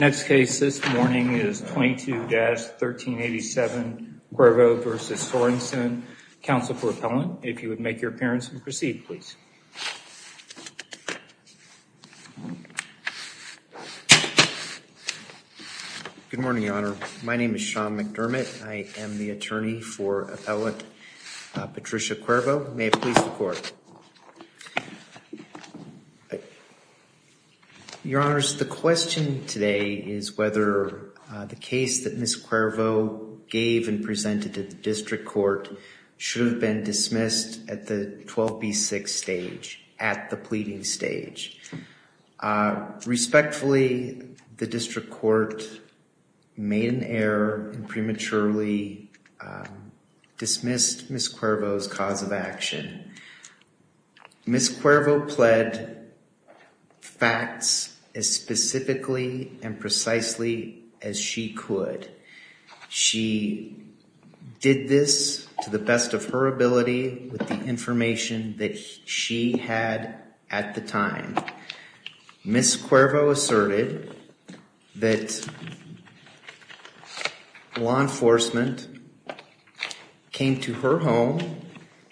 Next case this morning is 22-1387 Cuervo v. Sorenson, counsel for appellant. If you would make your appearance and proceed, please. Good morning, Your Honor. My name is Sean McDermott. I am the attorney for appellant Patricia Cuervo. May it please the court. Your Honor, the question today is whether the case that Ms. Cuervo gave and presented to the district court should have been dismissed at the 12B6 stage, at the pleading stage. Respectfully, the district court made an error and prematurely dismissed Ms. Cuervo's cause of Ms. Cuervo pled facts as specifically and precisely as she could. She did this to the best of her ability with the information that she had at the time. Ms. Cuervo asserted that law enforcement came to her home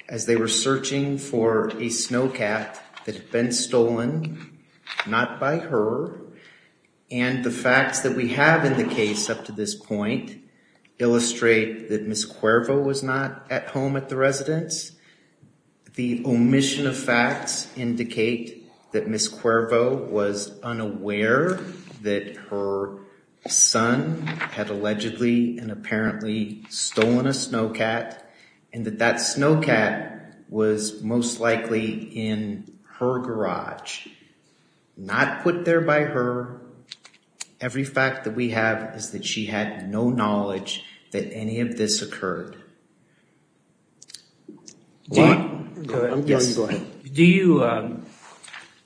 as they were searching for a snowcat that had been stolen, not by her, and the facts that we have in the case up to this point illustrate that Ms. Cuervo was not at home at the residence. The omission of facts indicate that Ms. Cuervo was unaware that her son had allegedly and apparently stolen a snowcat and that that snowcat was most likely in her garage, not put there by her. Every fact that we have is that she had no knowledge that any of this occurred. Do you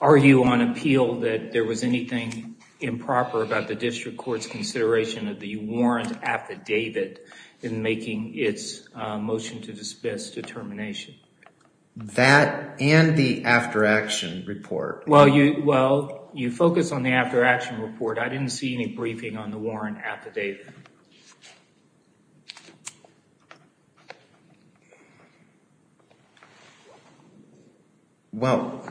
argue on appeal that there was anything improper about the district court's consideration of the warrant affidavit in making its motion to dismiss determination? That and the after action report. Well, you focus on the after action report. I didn't see any briefing on the warrant affidavit. Well,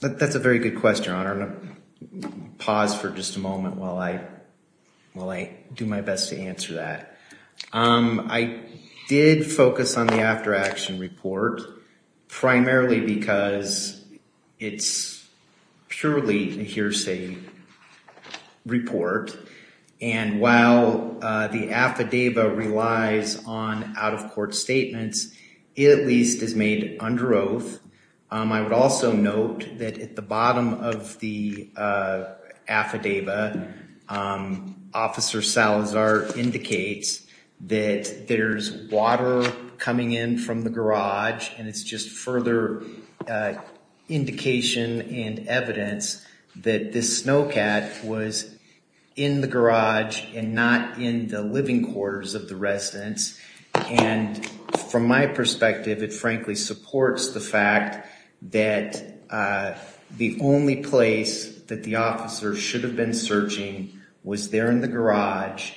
that's a very good question. I'm going to pause for just a moment while I do my best to answer that. I did focus on the after action report primarily because it's purely a hearsay report and while the affidavit relies on out-of-court statements, it at least is made under oath. I would also note that at the bottom of the affidavit, Officer Salazar indicates that there's water coming in from the garage and it's just further indication and evidence that this snowcat was in the garage and not in the living quarters of the residence. And from my perspective, it frankly supports the fact that the only place that the officer should have been searching was there in the garage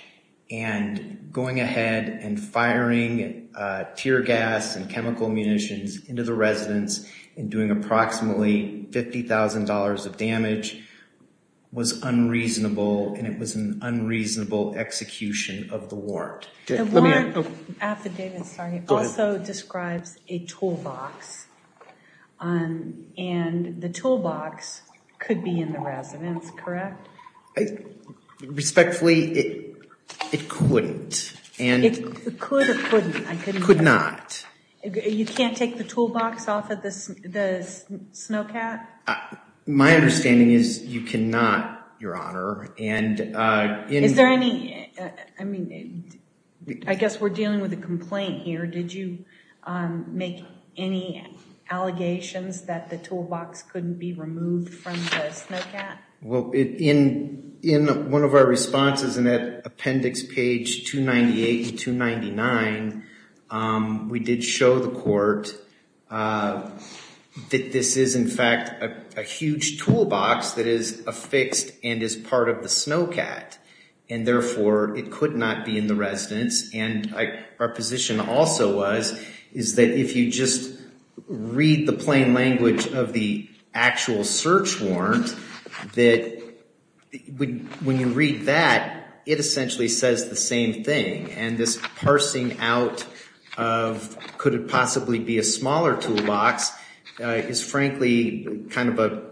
and going ahead and firing tear gas and chemical munitions into the residence and doing approximately $50,000 of damage was unreasonable and it was an unreasonable execution of the warrant. The warrant affidavit also describes a toolbox and the toolbox could be in the residence, correct? I respectfully, it couldn't. It could or couldn't? It could not. You can't take the toolbox off of the snowcat? My understanding is you cannot, Your Honor. Is there any, I mean, I guess we're dealing with a complaint here. Did you make any allegations that the toolbox couldn't be removed from the in one of our responses in that appendix page 298 and 299, we did show the court that this is in fact a huge toolbox that is affixed and is part of the snowcat and therefore it could not be in the residence and our position also was is that if you just read the plain language of the actual search warrant that when you read that it essentially says the same thing and this parsing out of could it possibly be a smaller toolbox is frankly kind of a,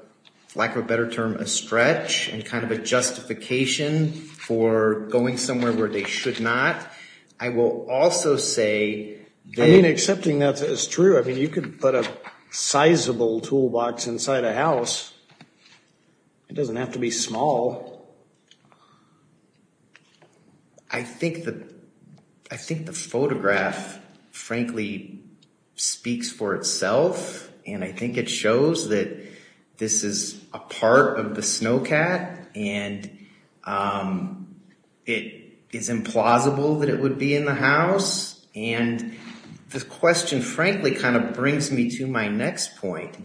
lack of a better term, a stretch and kind of a justification for going somewhere where they inside a house. It doesn't have to be small. I think the, I think the photograph frankly speaks for itself and I think it shows that this is a part of the snowcat and it is implausible that it would be in the house and the question frankly kind of brings me to my next point.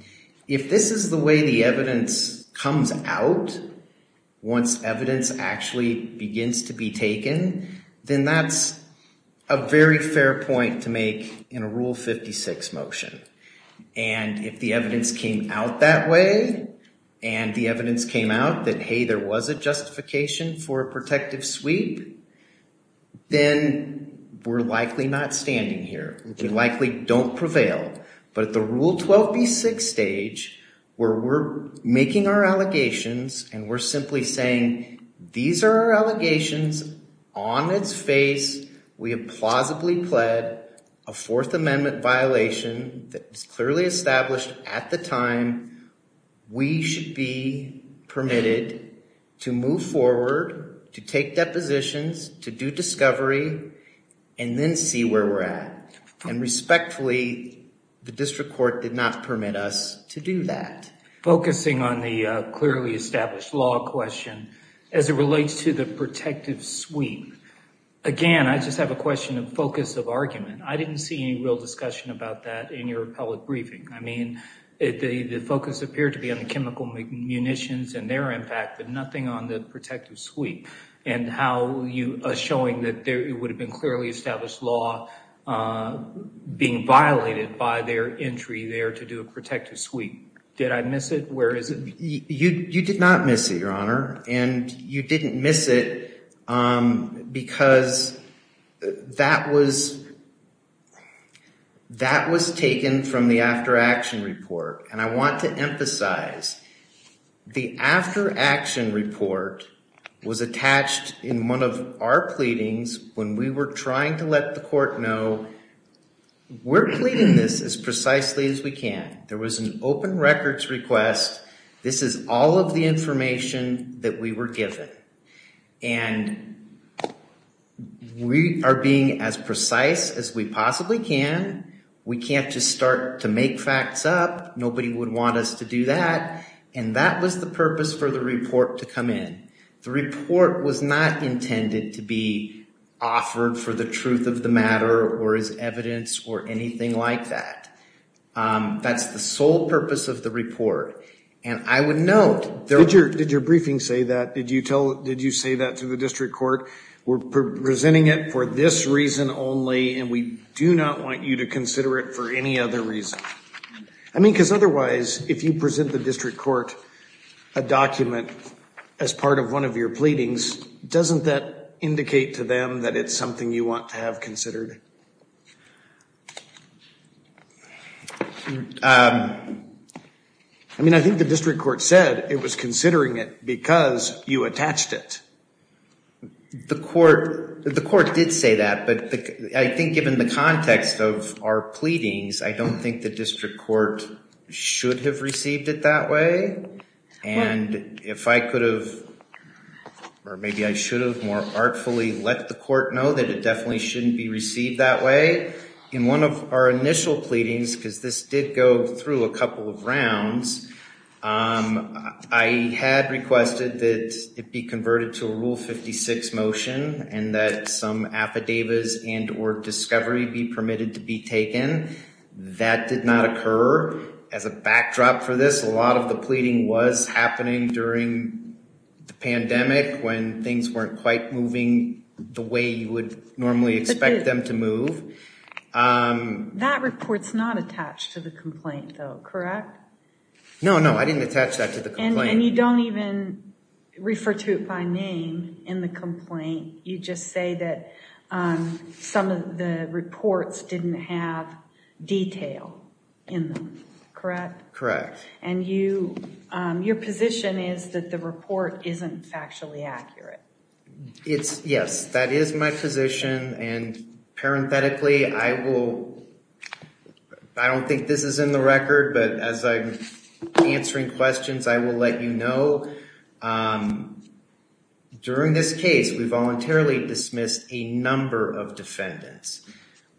If this is the way the evidence comes out, once evidence actually begins to be taken, then that's a very fair point to make in a Rule 56 motion and if the evidence came out that way and the evidence came out that hey, there was a justification for a protective sweep, then we're likely not standing here. We likely don't prevail but at the Rule 12b6 stage where we're making our allegations and we're simply saying these are our allegations on its face. We have plausibly pled a Fourth Amendment violation that was clearly established at the time we should be permitted to move forward, to take depositions, to do discovery and then see where we're at and respectfully, the district court did not permit us to do that. Focusing on the clearly established law question as it relates to the protective sweep. Again, I just have a question of focus of argument. I didn't see any real discussion about that in your public briefing. I mean the focus appeared to be on the chemical munitions and their impact but nothing on the protective sweep and how you are showing that there would have been clearly established law being violated by their entry there to do a protective sweep. Did I miss it? Where is it? You did not miss it, and you didn't miss it because that was taken from the after action report and I want to emphasize the after action report was attached in one of our pleadings when we were trying to let the court know we're pleading this as precisely as we can. There was an open records request. This is all of the information that we were given and we are being as precise as we possibly can. We can't just start to make facts up. Nobody would want us to do that and that was the purpose for the report to come in. The report was not intended to be offered for the truth of the matter or as evidence or anything like that. That's the sole purpose of the report and I would note... Did your briefing say that? Did you say that to the district court? We're presenting it for this reason only and we do not want you to consider it for any other reason. I mean because otherwise if you present the district court a document as part of one of your pleadings, doesn't that indicate to them that it's something you want to have considered? I mean I think the district court said it was considering it because you attached it. The court did say that but I think given the context of our pleadings I don't think the district court should have received it that way and if I could have or maybe I should have more artfully let the court know that it definitely shouldn't be received that way. In one of our initial pleadings, because this did go through a couple of rounds, I had requested that it be converted to a Rule 56 motion and that some affidavits and or discovery be permitted to be taken. That did not occur. As a backdrop for this, a lot of the pleading was happening during the pandemic when things weren't quite moving the way you would normally expect them to move. That report's not attached to the complaint though, correct? No, no I didn't attach that to the complaint. And you don't even refer to it by name in the complaint. You just say that some of the reports didn't have detail in them, correct? Correct. And your position is that the report isn't factually accurate? Yes, that is my position and parenthetically I will, I don't think this is in the record but as I'm answering questions, I will let you know that during this case we voluntarily dismissed a number of defendants.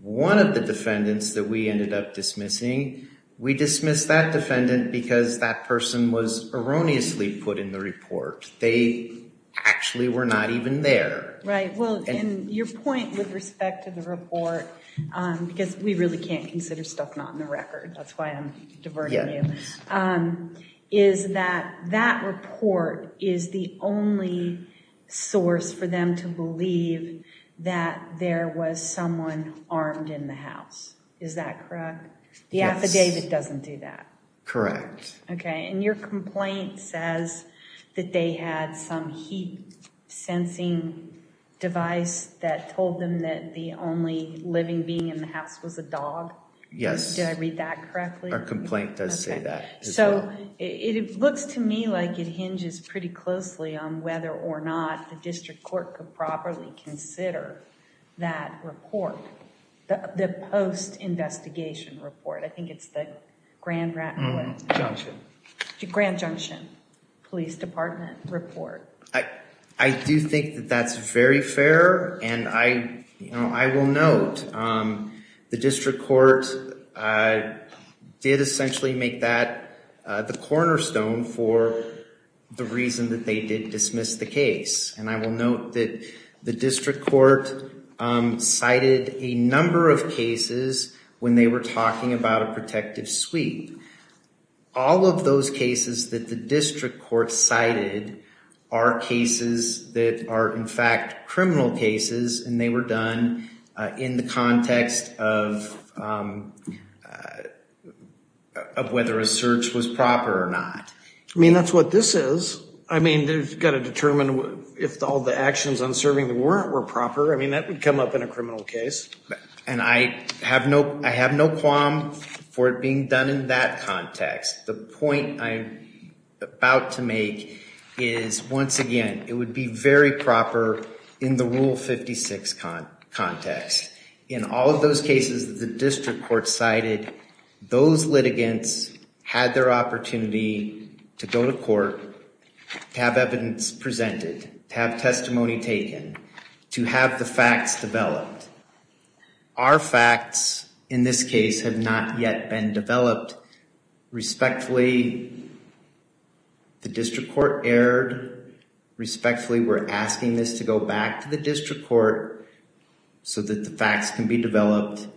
One of the defendants that we ended up dismissing, we dismissed that defendant because that person was erroneously put in the report. They actually were not even there. Right, well and your point with respect to the report, because we really can't consider stuff not in the record, that's why I'm diverting you, is that that report is the only source for them to believe that there was someone armed in the house, is that correct? The affidavit doesn't do that. Correct. Okay and your complaint says that they had some heat sensing device that told them that the only living being in the house was a dog. Yes. Did I read that correctly? Our complaint does say that. So it looks to me like it hinges pretty closely on whether or not the district court could properly consider that report, the post-investigation report. I think it's the Grand Junction Police Department report. I do think that that's very fair and I will note the district court did essentially make that the cornerstone for the reason that they did dismiss the case. And I will note that the district court cited a number of cases when they were talking about a protective sweep. All of those cases that the district court cited are cases that are in fact criminal cases and they were done in the context of whether a search was proper or not. I mean that's what this is. I mean they've got to determine if all the actions on serving the warrant were proper. I mean done in that context. The point I'm about to make is once again it would be very proper in the rule 56 context. In all of those cases the district court cited those litigants had their opportunity to go to court, to have evidence presented, to have testimony taken, to have the facts developed. Our facts in this case have not yet been developed. Respectfully the district court erred. Respectfully we're asking this to go back to the district court so that the facts can be developed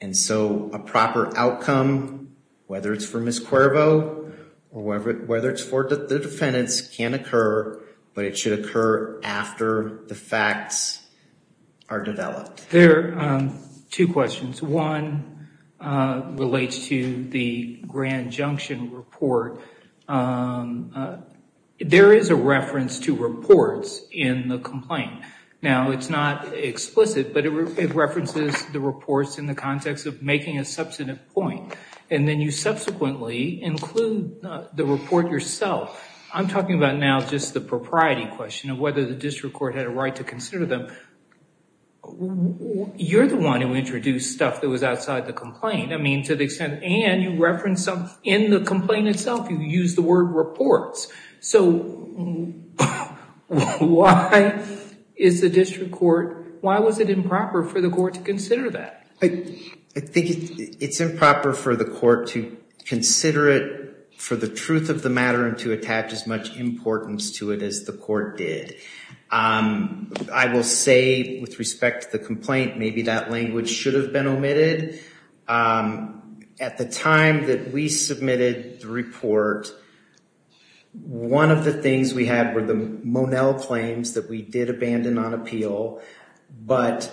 and so a proper outcome whether it's for Ms. Cuervo or whether it's for the defendants can occur but it should occur after the facts are developed. There are two questions. One relates to the Grand Junction report. There is a reference to reports in the complaint. Now it's not explicit but it references the reports in the context of making a substantive point and then you subsequently include the report yourself. I'm talking about now just the propriety question of whether the district court had a right to consider them. You're the one who introduced stuff that was outside the complaint. I mean to the extent and you reference something in the complaint itself you use the word reports. So why is the district court, why was it improper for the court to consider that? I think it's improper for the court to consider it for the truth of the matter and to attach as much importance to it as the court did. I will say with respect to the complaint maybe that language should have been omitted. At the time that we submitted the report one of the things we had were the Monell claims that we did abandon on appeal but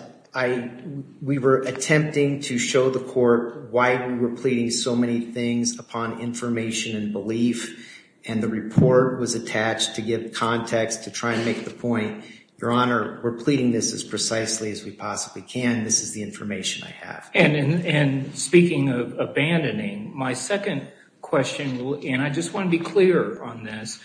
we were attempting to show the court why we were pleading so many things upon information and belief and the report was attached to give context to try and make the point, your honor, we're pleading this as precisely as we possibly can. This is the information I have. And speaking of abandoning, my second question and I just want to be clear on this,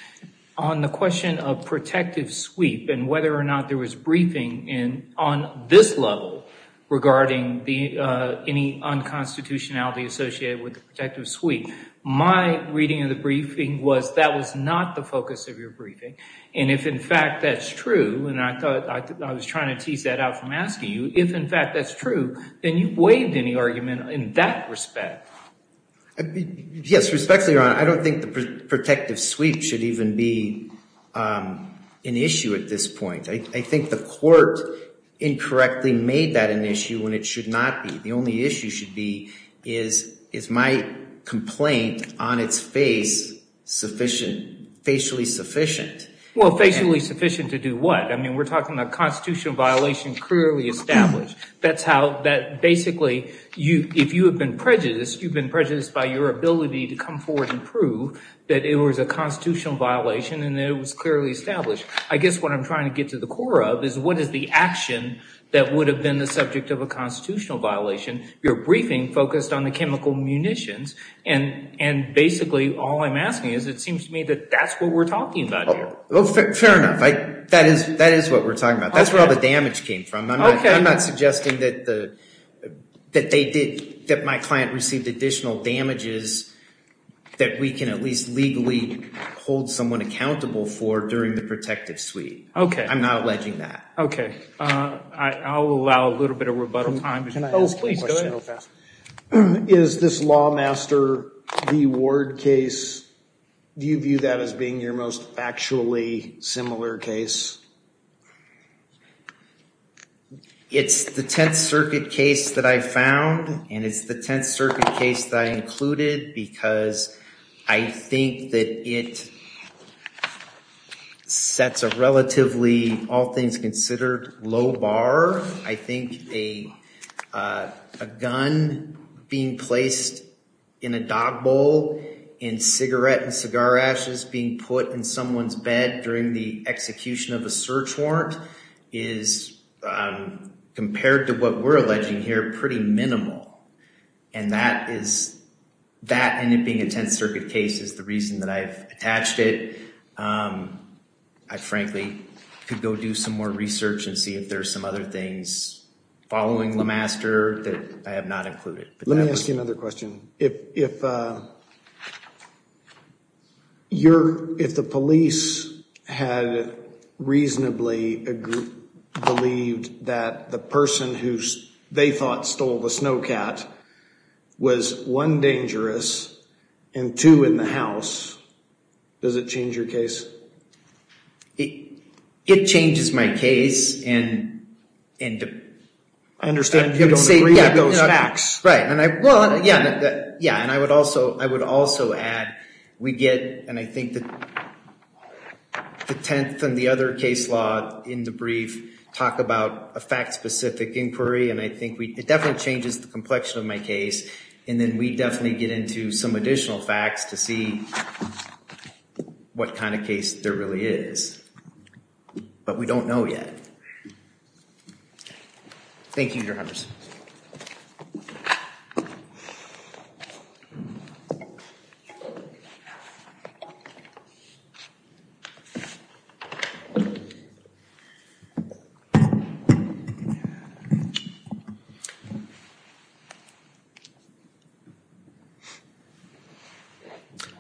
on the question of protective sweep and whether or not there was briefing in on this level regarding the any unconstitutionality associated with the protective sweep. My reading of the briefing was that was not the focus of your briefing and if in fact that's true and I thought I was trying to tease that out from asking you, if in fact that's true then you've waived any argument in that respect. Yes respectfully, your honor, I don't think the um an issue at this point. I think the court incorrectly made that an issue when it should not be. The only issue should be is is my complaint on its face sufficient, facially sufficient. Well facially sufficient to do what? I mean we're talking about constitutional violation clearly established. That's how that basically you if you have been prejudiced you've been by your ability to come forward and prove that it was a constitutional violation and it was clearly established. I guess what I'm trying to get to the core of is what is the action that would have been the subject of a constitutional violation. Your briefing focused on the chemical munitions and and basically all I'm asking is it seems to me that that's what we're talking about. Well fair enough. I that is that is what we're talking about. That's where all the damage came from. I'm not suggesting that the that they did that my client received additional damages that we can at least legally hold someone accountable for during the protective suite. Okay. I'm not alleging that. Okay. I'll allow a little bit of rebuttal time. Is this Lawmaster v. Ward case, do you view that as being your most factually similar case? It's the Tenth Circuit case that I found and it's the Tenth Circuit case that I included because I think that it sets a relatively all things considered low bar. I think a a gun being placed in a dog bowl and cigarette and cigar ashes being put in someone's bed during the compared to what we're alleging here pretty minimal and that is that and it being a Tenth Circuit case is the reason that I've attached it. I frankly could go do some more research and see if there's some other things following LaMaster that I have not included. Let me ask you another question. If the police had reasonably believed that the person who they thought stole the snow cat was one dangerous and two in the house, does it change your case? It changes my case and I understand you don't agree with those facts. Right and I would also add we get and I think the Tenth and the other case law in the brief talk about a fact-specific inquiry and I think it definitely changes the complexion of my case and then we definitely get into some additional facts to see what kind of case there really is, but we don't know yet. Thank you, Your Honor.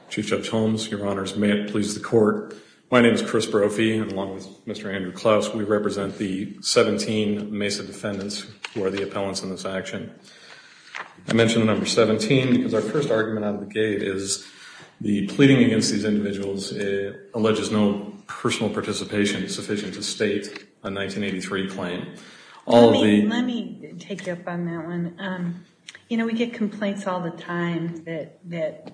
Chief Judge Holmes, Your Honors, may it please the court. My name is Chris Brophy and along with Mr. Andrew Klaus, we represent the 17 Mesa defendants who are the appellants in this action. I mentioned the number 17 because our first argument out of the gate is the pleading against these individuals alleges no personal participation sufficient to state a 1983 claim. Let me take you up on that one. You know we get complaints all the time that that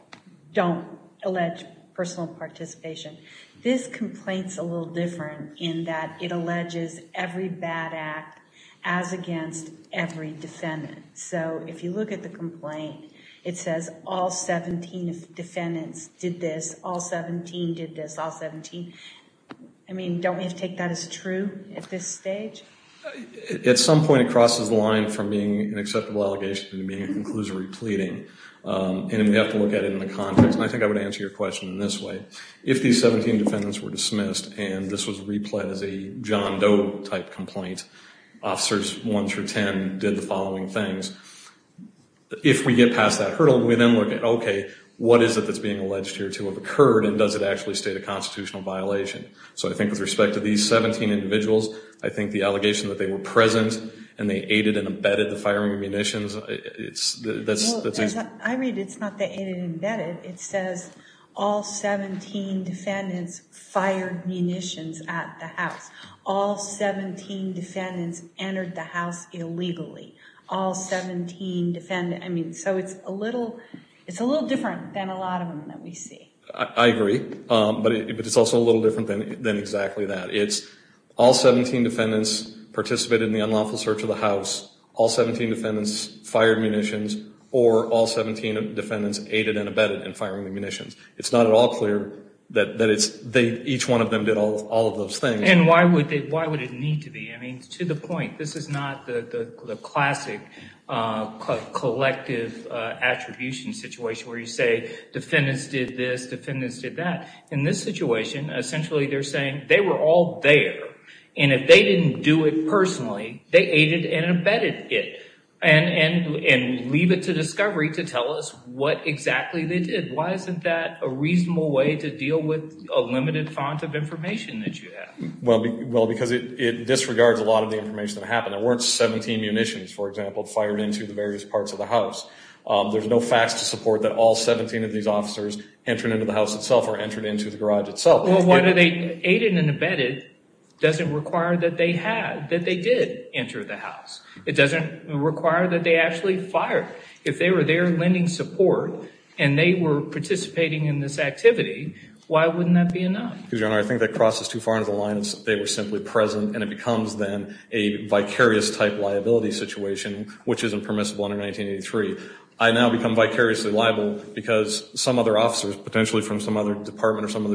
don't allege personal participation. This complaint's a little different in that it alleges every bad act as against every defendant. So if you look at the complaint it says all 17 defendants did this, all 17 did this, all 17. I mean don't we have to take that as true at this stage? At some point it crosses the line from being an acceptable allegation to being a conclusory pleading and we have to look at it in the context and I think I would answer your question in this way. If these 17 defendants were dismissed and this was replayed as a John Doe type complaint, officers 1 through 10 did the following things. If we get past that hurdle we then look at okay what is it that's being alleged here to have occurred and does it actually state a constitutional violation? So I think with respect to these 17 individuals I think the allegation that they were present and they aided and abetted the firing munitions it's that's... I read it's not that it's embedded it says all 17 defendants fired munitions at the house, all 17 defendants entered the house illegally, all 17 defendants. I mean so it's a little it's a little different than a lot of them that we see. I agree but it's also a little different than than exactly that. It's all 17 defendants participated in the unlawful search of the house, all 17 defendants fired munitions or all 17 defendants aided and abetted in firing the munitions. It's not at all clear that that it's they each one of them did all of those things. And why would they why would it need to be? I mean to the point this is not the the classic collective attribution situation where you say defendants did this, defendants did that. In this situation essentially they're saying they were all there and if they didn't do it personally they aided and abetted it and leave it to discovery to tell us what exactly they did. Why isn't that a reasonable way to deal with a limited font of information that you have? Well because it disregards a lot of the information that happened. There weren't 17 munitions for example fired into the various parts of the house. There's no facts to support that all 17 of these Well why do they aided and abetted doesn't require that they had that they did enter the house. It doesn't require that they actually fired. If they were there lending support and they were participating in this activity why wouldn't that be enough? Because your honor I think that crosses too far into the lines they were simply present and it becomes then a vicarious type liability situation which isn't permissible under 1983. I now become vicariously liable because some other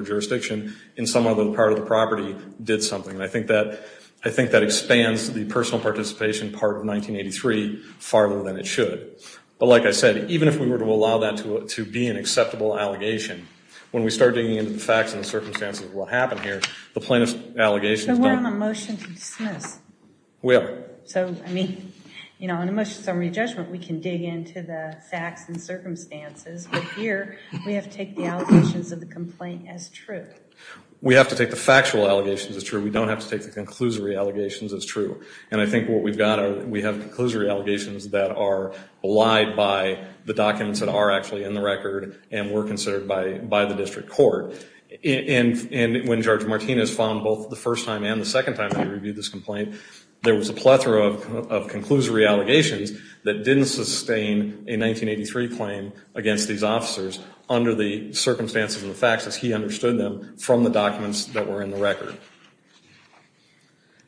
jurisdiction in some other part of the property did something and I think that I think that expands the personal participation part of 1983 far more than it should. But like I said even if we were to allow that to be an acceptable allegation when we start digging into the facts and the circumstances of what happened here the plaintiff's allegations. So we're on a motion to dismiss? We are. So I mean you know in a motion summary judgment we can dig into the facts and circumstances but here we have to take the allegations of the complaint as true. We have to take the factual allegations as true. We don't have to take the conclusory allegations as true and I think what we've got are we have conclusory allegations that are belied by the documents that are actually in the record and were considered by by the district court. And when Judge Martinez found both the first time and the second time he reviewed this complaint there was a plethora of conclusory allegations that didn't sustain a 1983 claim against these officers under the circumstances of the facts as he understood them from the documents that were in the record.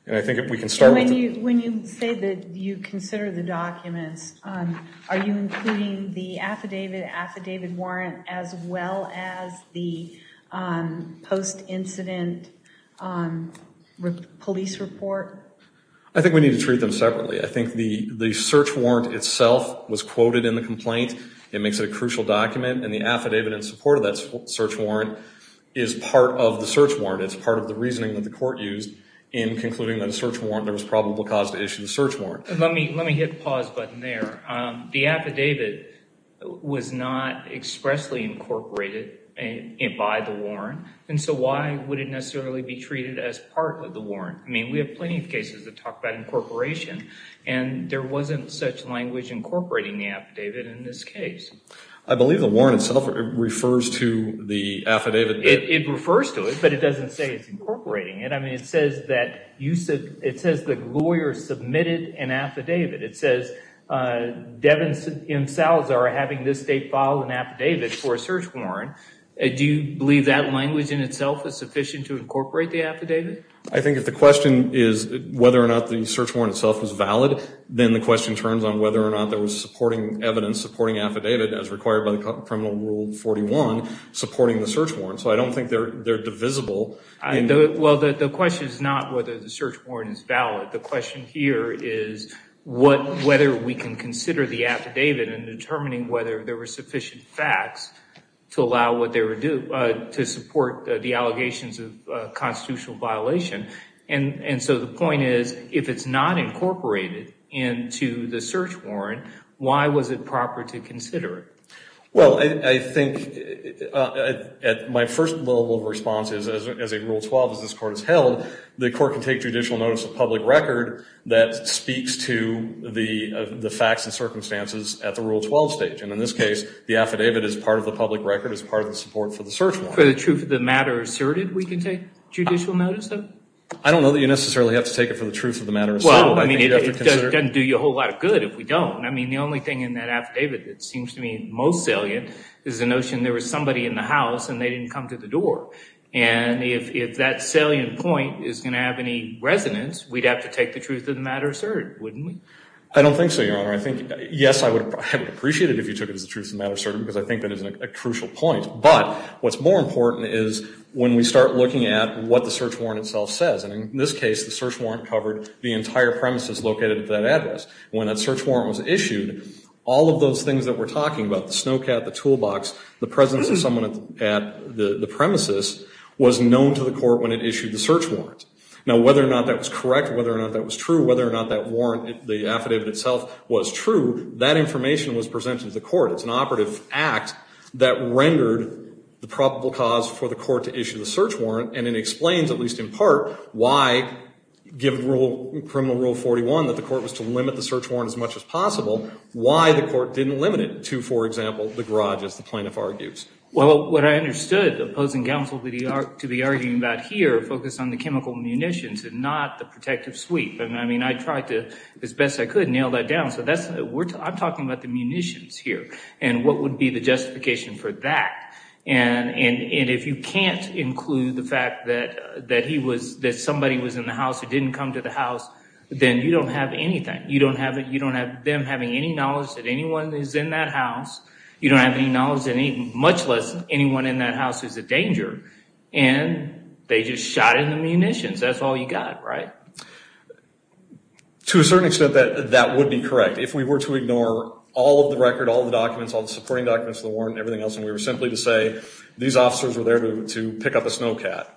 And I think if we can start. When you when you say that you consider the documents are you including the affidavit affidavit warrant as well as the post-incident um police report? I think we need to treat them separately. I think the the search warrant itself was quoted in the complaint. It makes it a crucial document and the affidavit in support of that search warrant is part of the search warrant. It's part of the reasoning that the court used in concluding that a search warrant there was probable cause to issue the search warrant. Let me let me hit the pause button there. The affidavit was not expressly incorporated by the warrant and so why would it necessarily be treated as part of the warrant? I mean we have plenty of cases that talk about incorporation and there wasn't such language incorporating the affidavit in this case. I believe the warrant itself refers to the affidavit. It refers to it but it doesn't say it's incorporating it. I mean it says that you said it says the lawyer submitted an affidavit. It says uh Devin and Salazar are having this state file an affidavit for a search warrant. Do you believe that language in itself is sufficient to incorporate the affidavit? I think if the question is whether or not the search warrant itself is valid then the question turns on whether or not there was supporting evidence supporting affidavit as required by the criminal rule 41 supporting the search warrant. So I don't think they're they're divisible. Well the question is not whether the search warrant is valid. The question here is what whether we can consider the affidavit in determining whether there were sufficient facts to allow what they would do to support the allegations of constitutional violation and and so the point is if it's not incorporated into the search warrant why was it proper to consider it? Well I think at my first level of response is as a rule 12 as this court is held the court can take judicial notice of public record that speaks to the the facts and circumstances at the rule 12 stage and in this case the affidavit is part of the public record as part of the support for the search warrant. For the truth of the matter asserted we can take judicial notice though? I don't know that you necessarily have to take it for the truth of the matter. Well I mean it doesn't do you a whole lot of good if we don't. I mean the only thing in that affidavit that seems to me most salient is the there was somebody in the house and they didn't come to the door and if that salient point is going to have any resonance we'd have to take the truth of the matter asserted wouldn't we? I don't think so your honor. I think yes I would appreciate it if you took it as the truth of matter certain because I think that is a crucial point but what's more important is when we start looking at what the search warrant itself says and in this case the search warrant covered the entire premises located at that address. When that search warrant was issued all of those things that we're talking about the snowcat, the toolbox, the presence of someone at the premises was known to the court when it issued the search warrant. Now whether or not that was correct whether or not that was true whether or not that warrant the affidavit itself was true that information was presented to the court. It's an operative act that rendered the probable cause for the court to issue the search warrant and it explains at least in part why given rule criminal rule 41 that the court was to limit the search warrant as much as possible why the court didn't limit it to for example the garage as the plaintiff argues. Well what I understood opposing counsel to be arguing about here focus on the chemical munitions and not the protective sweep and I mean I tried to as best I could nail that down so that's we're talking about the munitions here and what would be the justification for that and if you can't include the fact that that he was that somebody was in the house who didn't come to the house then you don't have anything you don't have it you don't have them having any knowledge that anyone is in that house you don't have any knowledge and even much less anyone in that house is a danger and they just shot in the munitions that's all you got right. To a certain extent that that would be correct if we were to ignore all of the record all the documents all the supporting documents the warrant everything else and we were simply to say these officers were there to pick up a snowcat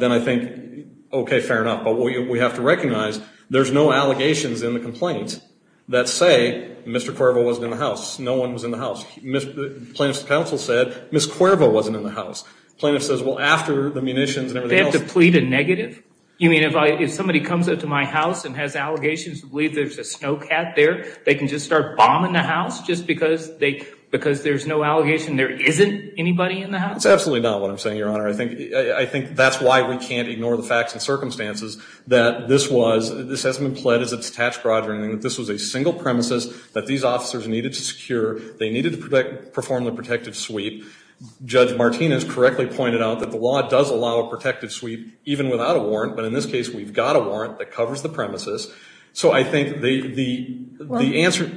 then I think okay fair enough but we have to recognize there's no allegations in the complaint that say Mr. Cuervo wasn't in the house no one was in the house. Plaintiff's counsel said Ms. Cuervo wasn't in the house plaintiff says well after the munitions and everything else. They have to plead a negative you mean if I if somebody comes up to my house and has allegations to believe there's a snowcat there they can just start bombing the house just because they because there's no allegation there isn't anybody in the house? That's absolutely not what I'm saying your honor I think I think that's why we can't ignore the facts and circumstances that this was this hasn't been pled as a detached graduating that this was a single premises that these officers needed to secure they needed to perform the protective sweep. Judge Martinez correctly pointed out that the law does allow a protective sweep even without a warrant but in this case we've got a warrant that covers the premises so I think the the answer.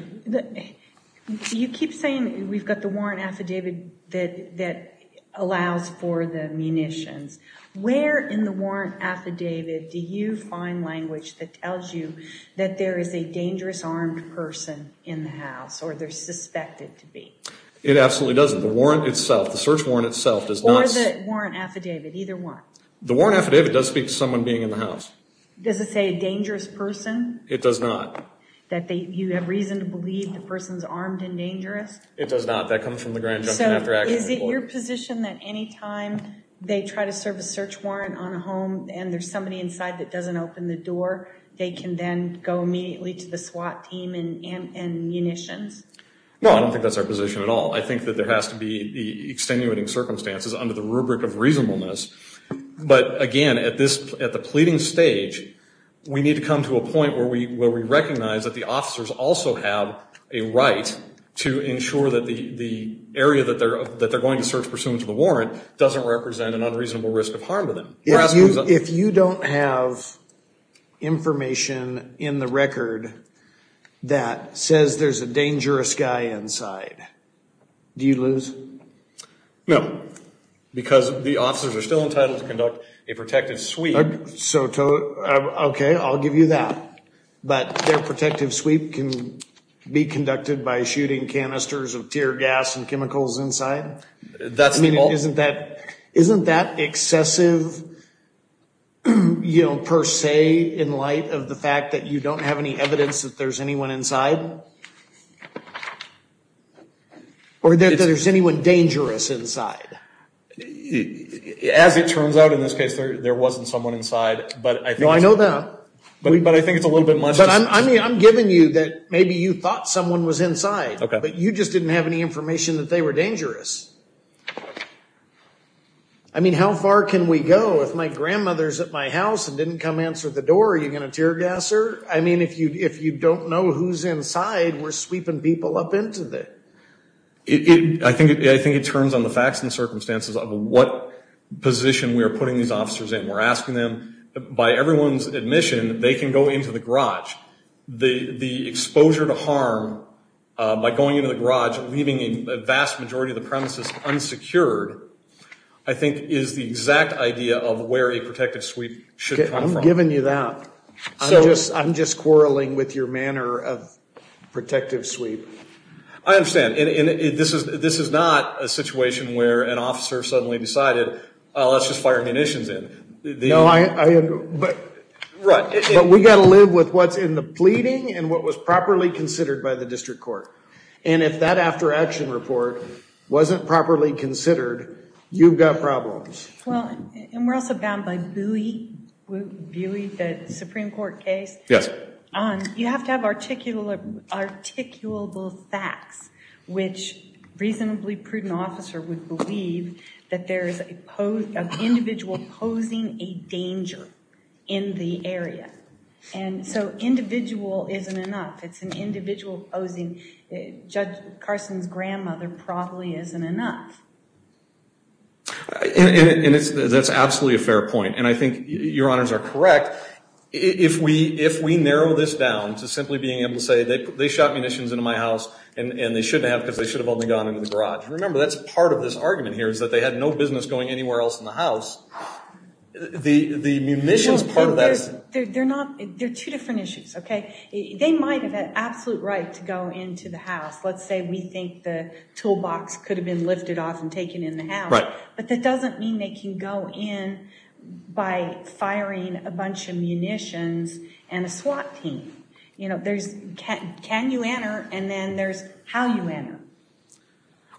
You keep saying we've got the warrant affidavit that that allows for the munitions where in the warrant affidavit do you find language that tells you that there is a dangerous armed person in the house or they're suspected to be? It absolutely doesn't the warrant itself the search warrant itself does not. Or the warrant affidavit either one? The warrant affidavit does speak to someone being in the house. Does it say a dangerous person? It does not. That they you have reason to believe the person's armed and dangerous? It does not that comes from the Grand Junction after action report. Is it your position that anytime they try to serve a search warrant on a home and there's somebody inside that doesn't open the door they can then go immediately to the SWAT team and and munitions? No I don't think that's our position at all I think that there has to be the extenuating circumstances under the rubric of reasonableness but again at this at the pleading stage we need to come to a point where we recognize that the officers also have a right to ensure that the the area that they're that they're going to search pursuant to the warrant doesn't represent an unreasonable risk of harm to them. If you don't have information in the record that says there's a dangerous guy inside do you lose? No because the officers are still entitled to conduct a protective sweep. So okay I'll give you that but their protective sweep can be conducted by shooting canisters of tear gas and chemicals inside? Isn't that isn't that excessive you know per se in light of the fact that you don't have any evidence that there's anyone inside? Or that there's anyone dangerous inside? It as it turns out in this case there wasn't someone inside but I know that but I think it's a little bit much. I mean I'm giving you that maybe you thought someone was inside okay but you just didn't have any information that they were dangerous. I mean how far can we go if my grandmother's at my house and didn't come answer the door are you going to tear gas her? I mean if you if you don't know who's inside we're sweeping people up into that. I think I think it turns on the facts and circumstances of what position we are putting these officers in. We're asking them by everyone's admission they can go into the garage. The the exposure to harm by going into the garage leaving a vast majority of the premises unsecured I think is the exact idea of where a protective sweep should come from. I'm giving you that so just I'm just quarreling with your manner of protective sweep. I understand and this is this is not a situation where an officer suddenly decided let's just fire munitions in. No I agree but right but we got to live with what's in the pleading and what was properly considered by the district court and if that after action report wasn't properly considered you've got problems. Well and we're also bound by Bui, Bui the Supreme Court case. Yes. You have to have articulate articulable facts which reasonably prudent officer would believe that there is a pose of individual posing a danger in the area and so individual isn't enough. It's an individual posing judge Carson's grandmother probably isn't enough. And it's that's absolutely a fair point and I think your honors are correct. If we if we narrow this down to simply being able to say that they shot munitions into my house and and they shouldn't have because they should have only gone into the garage. Remember that's part of this argument here is that they had no business going anywhere else in the house. The the munitions part of that. They're not they're two different issues okay. They might have had absolute right to go into the house. Let's say we think the toolbox could have been lifted off and taken in the house. Right. But that doesn't mean they can go in by firing a bunch of munitions and a SWAT team. You know there's can you enter and then there's how you enter.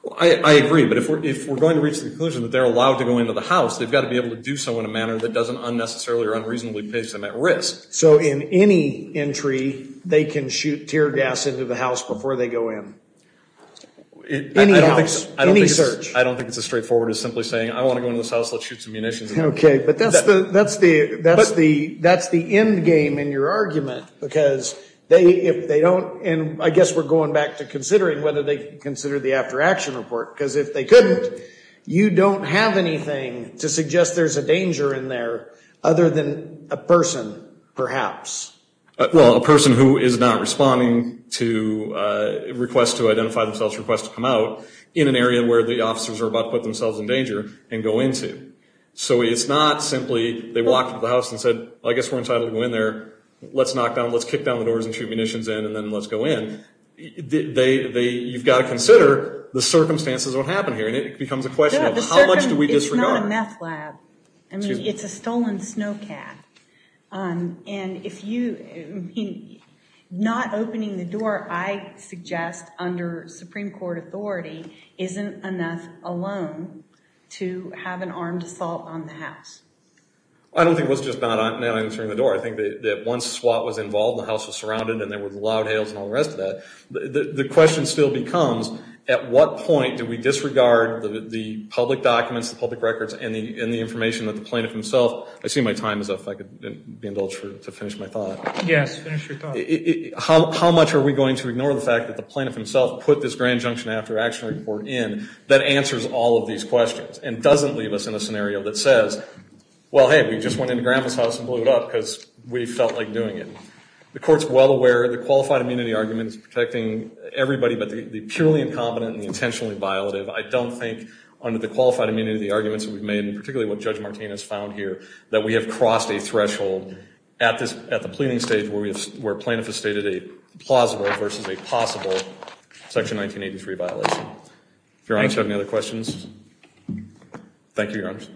Well I agree but if we're if we're going to reach the conclusion that they're allowed to go into the house they've got to be able to do so in a manner that doesn't unnecessarily or unreasonably place them at risk. So in any entry they can shoot tear gas into the house before they go in. I don't think it's as straightforward as simply saying I want to go into this house let's shoot some munitions. Okay but that's the that's the that's the that's the end game in your argument because they if they don't and I guess we're going back to considering whether they consider the after-action report because if they couldn't you don't have anything to suggest there's a perhaps. Well a person who is not responding to a request to identify themselves request to come out in an area where the officers are about to put themselves in danger and go into. So it's not simply they walked into the house and said I guess we're entitled to go in there let's knock down let's kick down the doors and shoot munitions in and then let's go in. They they you've got to consider the circumstances what happened here and it becomes a question of how much do we disregard. It's not a meth lab. I mean it's a stolen snowcat and if you not opening the door I suggest under supreme court authority isn't enough alone to have an armed assault on the house. I don't think it was just not now entering the door. I think that once SWAT was involved the house was surrounded and there were loud hails and all the rest of that. The question still becomes at what point do we disregard the public documents the public records and the information that the plaintiff himself. I see my time as if I could be indulged to finish my thought. Yes. How much are we going to ignore the fact that the plaintiff himself put this grand junction after action report in that answers all of these questions and doesn't leave us in a scenario that says well hey we just went into grandpa's house and blew it up because we felt like doing it. The court's well aware the qualified immunity argument is protecting everybody but the purely incompetent intentionally violative. I don't think under the qualified immunity the arguments that we've made and particularly what Judge Martinez found here that we have crossed a threshold at this at the pleading stage where we have where plaintiff has stated a plausible versus a possible section 1983 violation. If you're honest you have any other questions. Thank you your honors.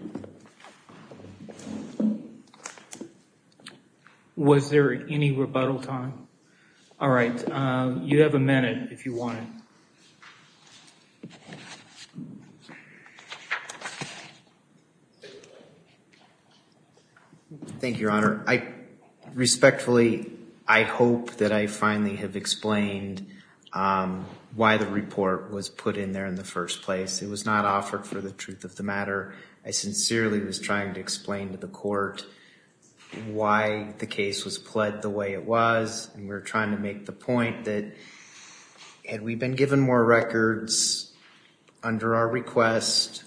Was there any rebuttal time? All right you have a minute if you want it. Thank you your honor. I respectfully I hope that I finally have explained why the report was put in there in the first place. It was not offered for the truth of the matter. I sincerely was trying to explain to the court why the case was pled the way it was and we're trying to make the point that had we been given more records under our request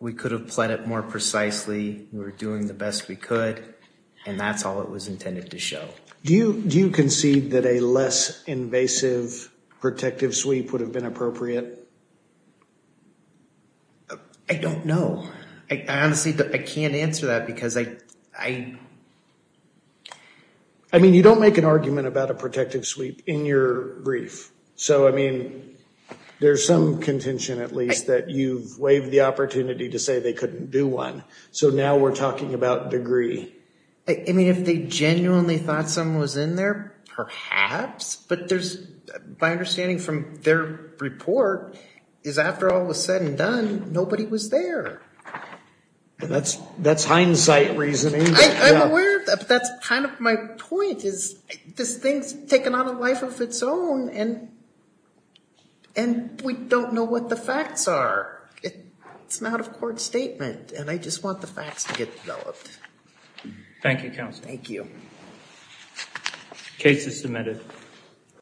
we could have pled it more precisely. We were doing the best we could and that's all it was intended to show. Do you do you concede that a I don't know. I honestly I can't answer that because I I mean you don't make an argument about a protective sweep in your brief. So I mean there's some contention at least that you've waived the opportunity to say they couldn't do one. So now we're talking about degree. I mean if they genuinely thought someone was in there perhaps but there's by understanding from their report is after all was said and done nobody was there. And that's that's hindsight reasoning. I'm aware of that but that's kind of my point is this thing's taken on a life of its own and and we don't know what the facts are. It's not a court statement and I just want the facts to get developed. Thank you counsel. Thank you. Case is submitted.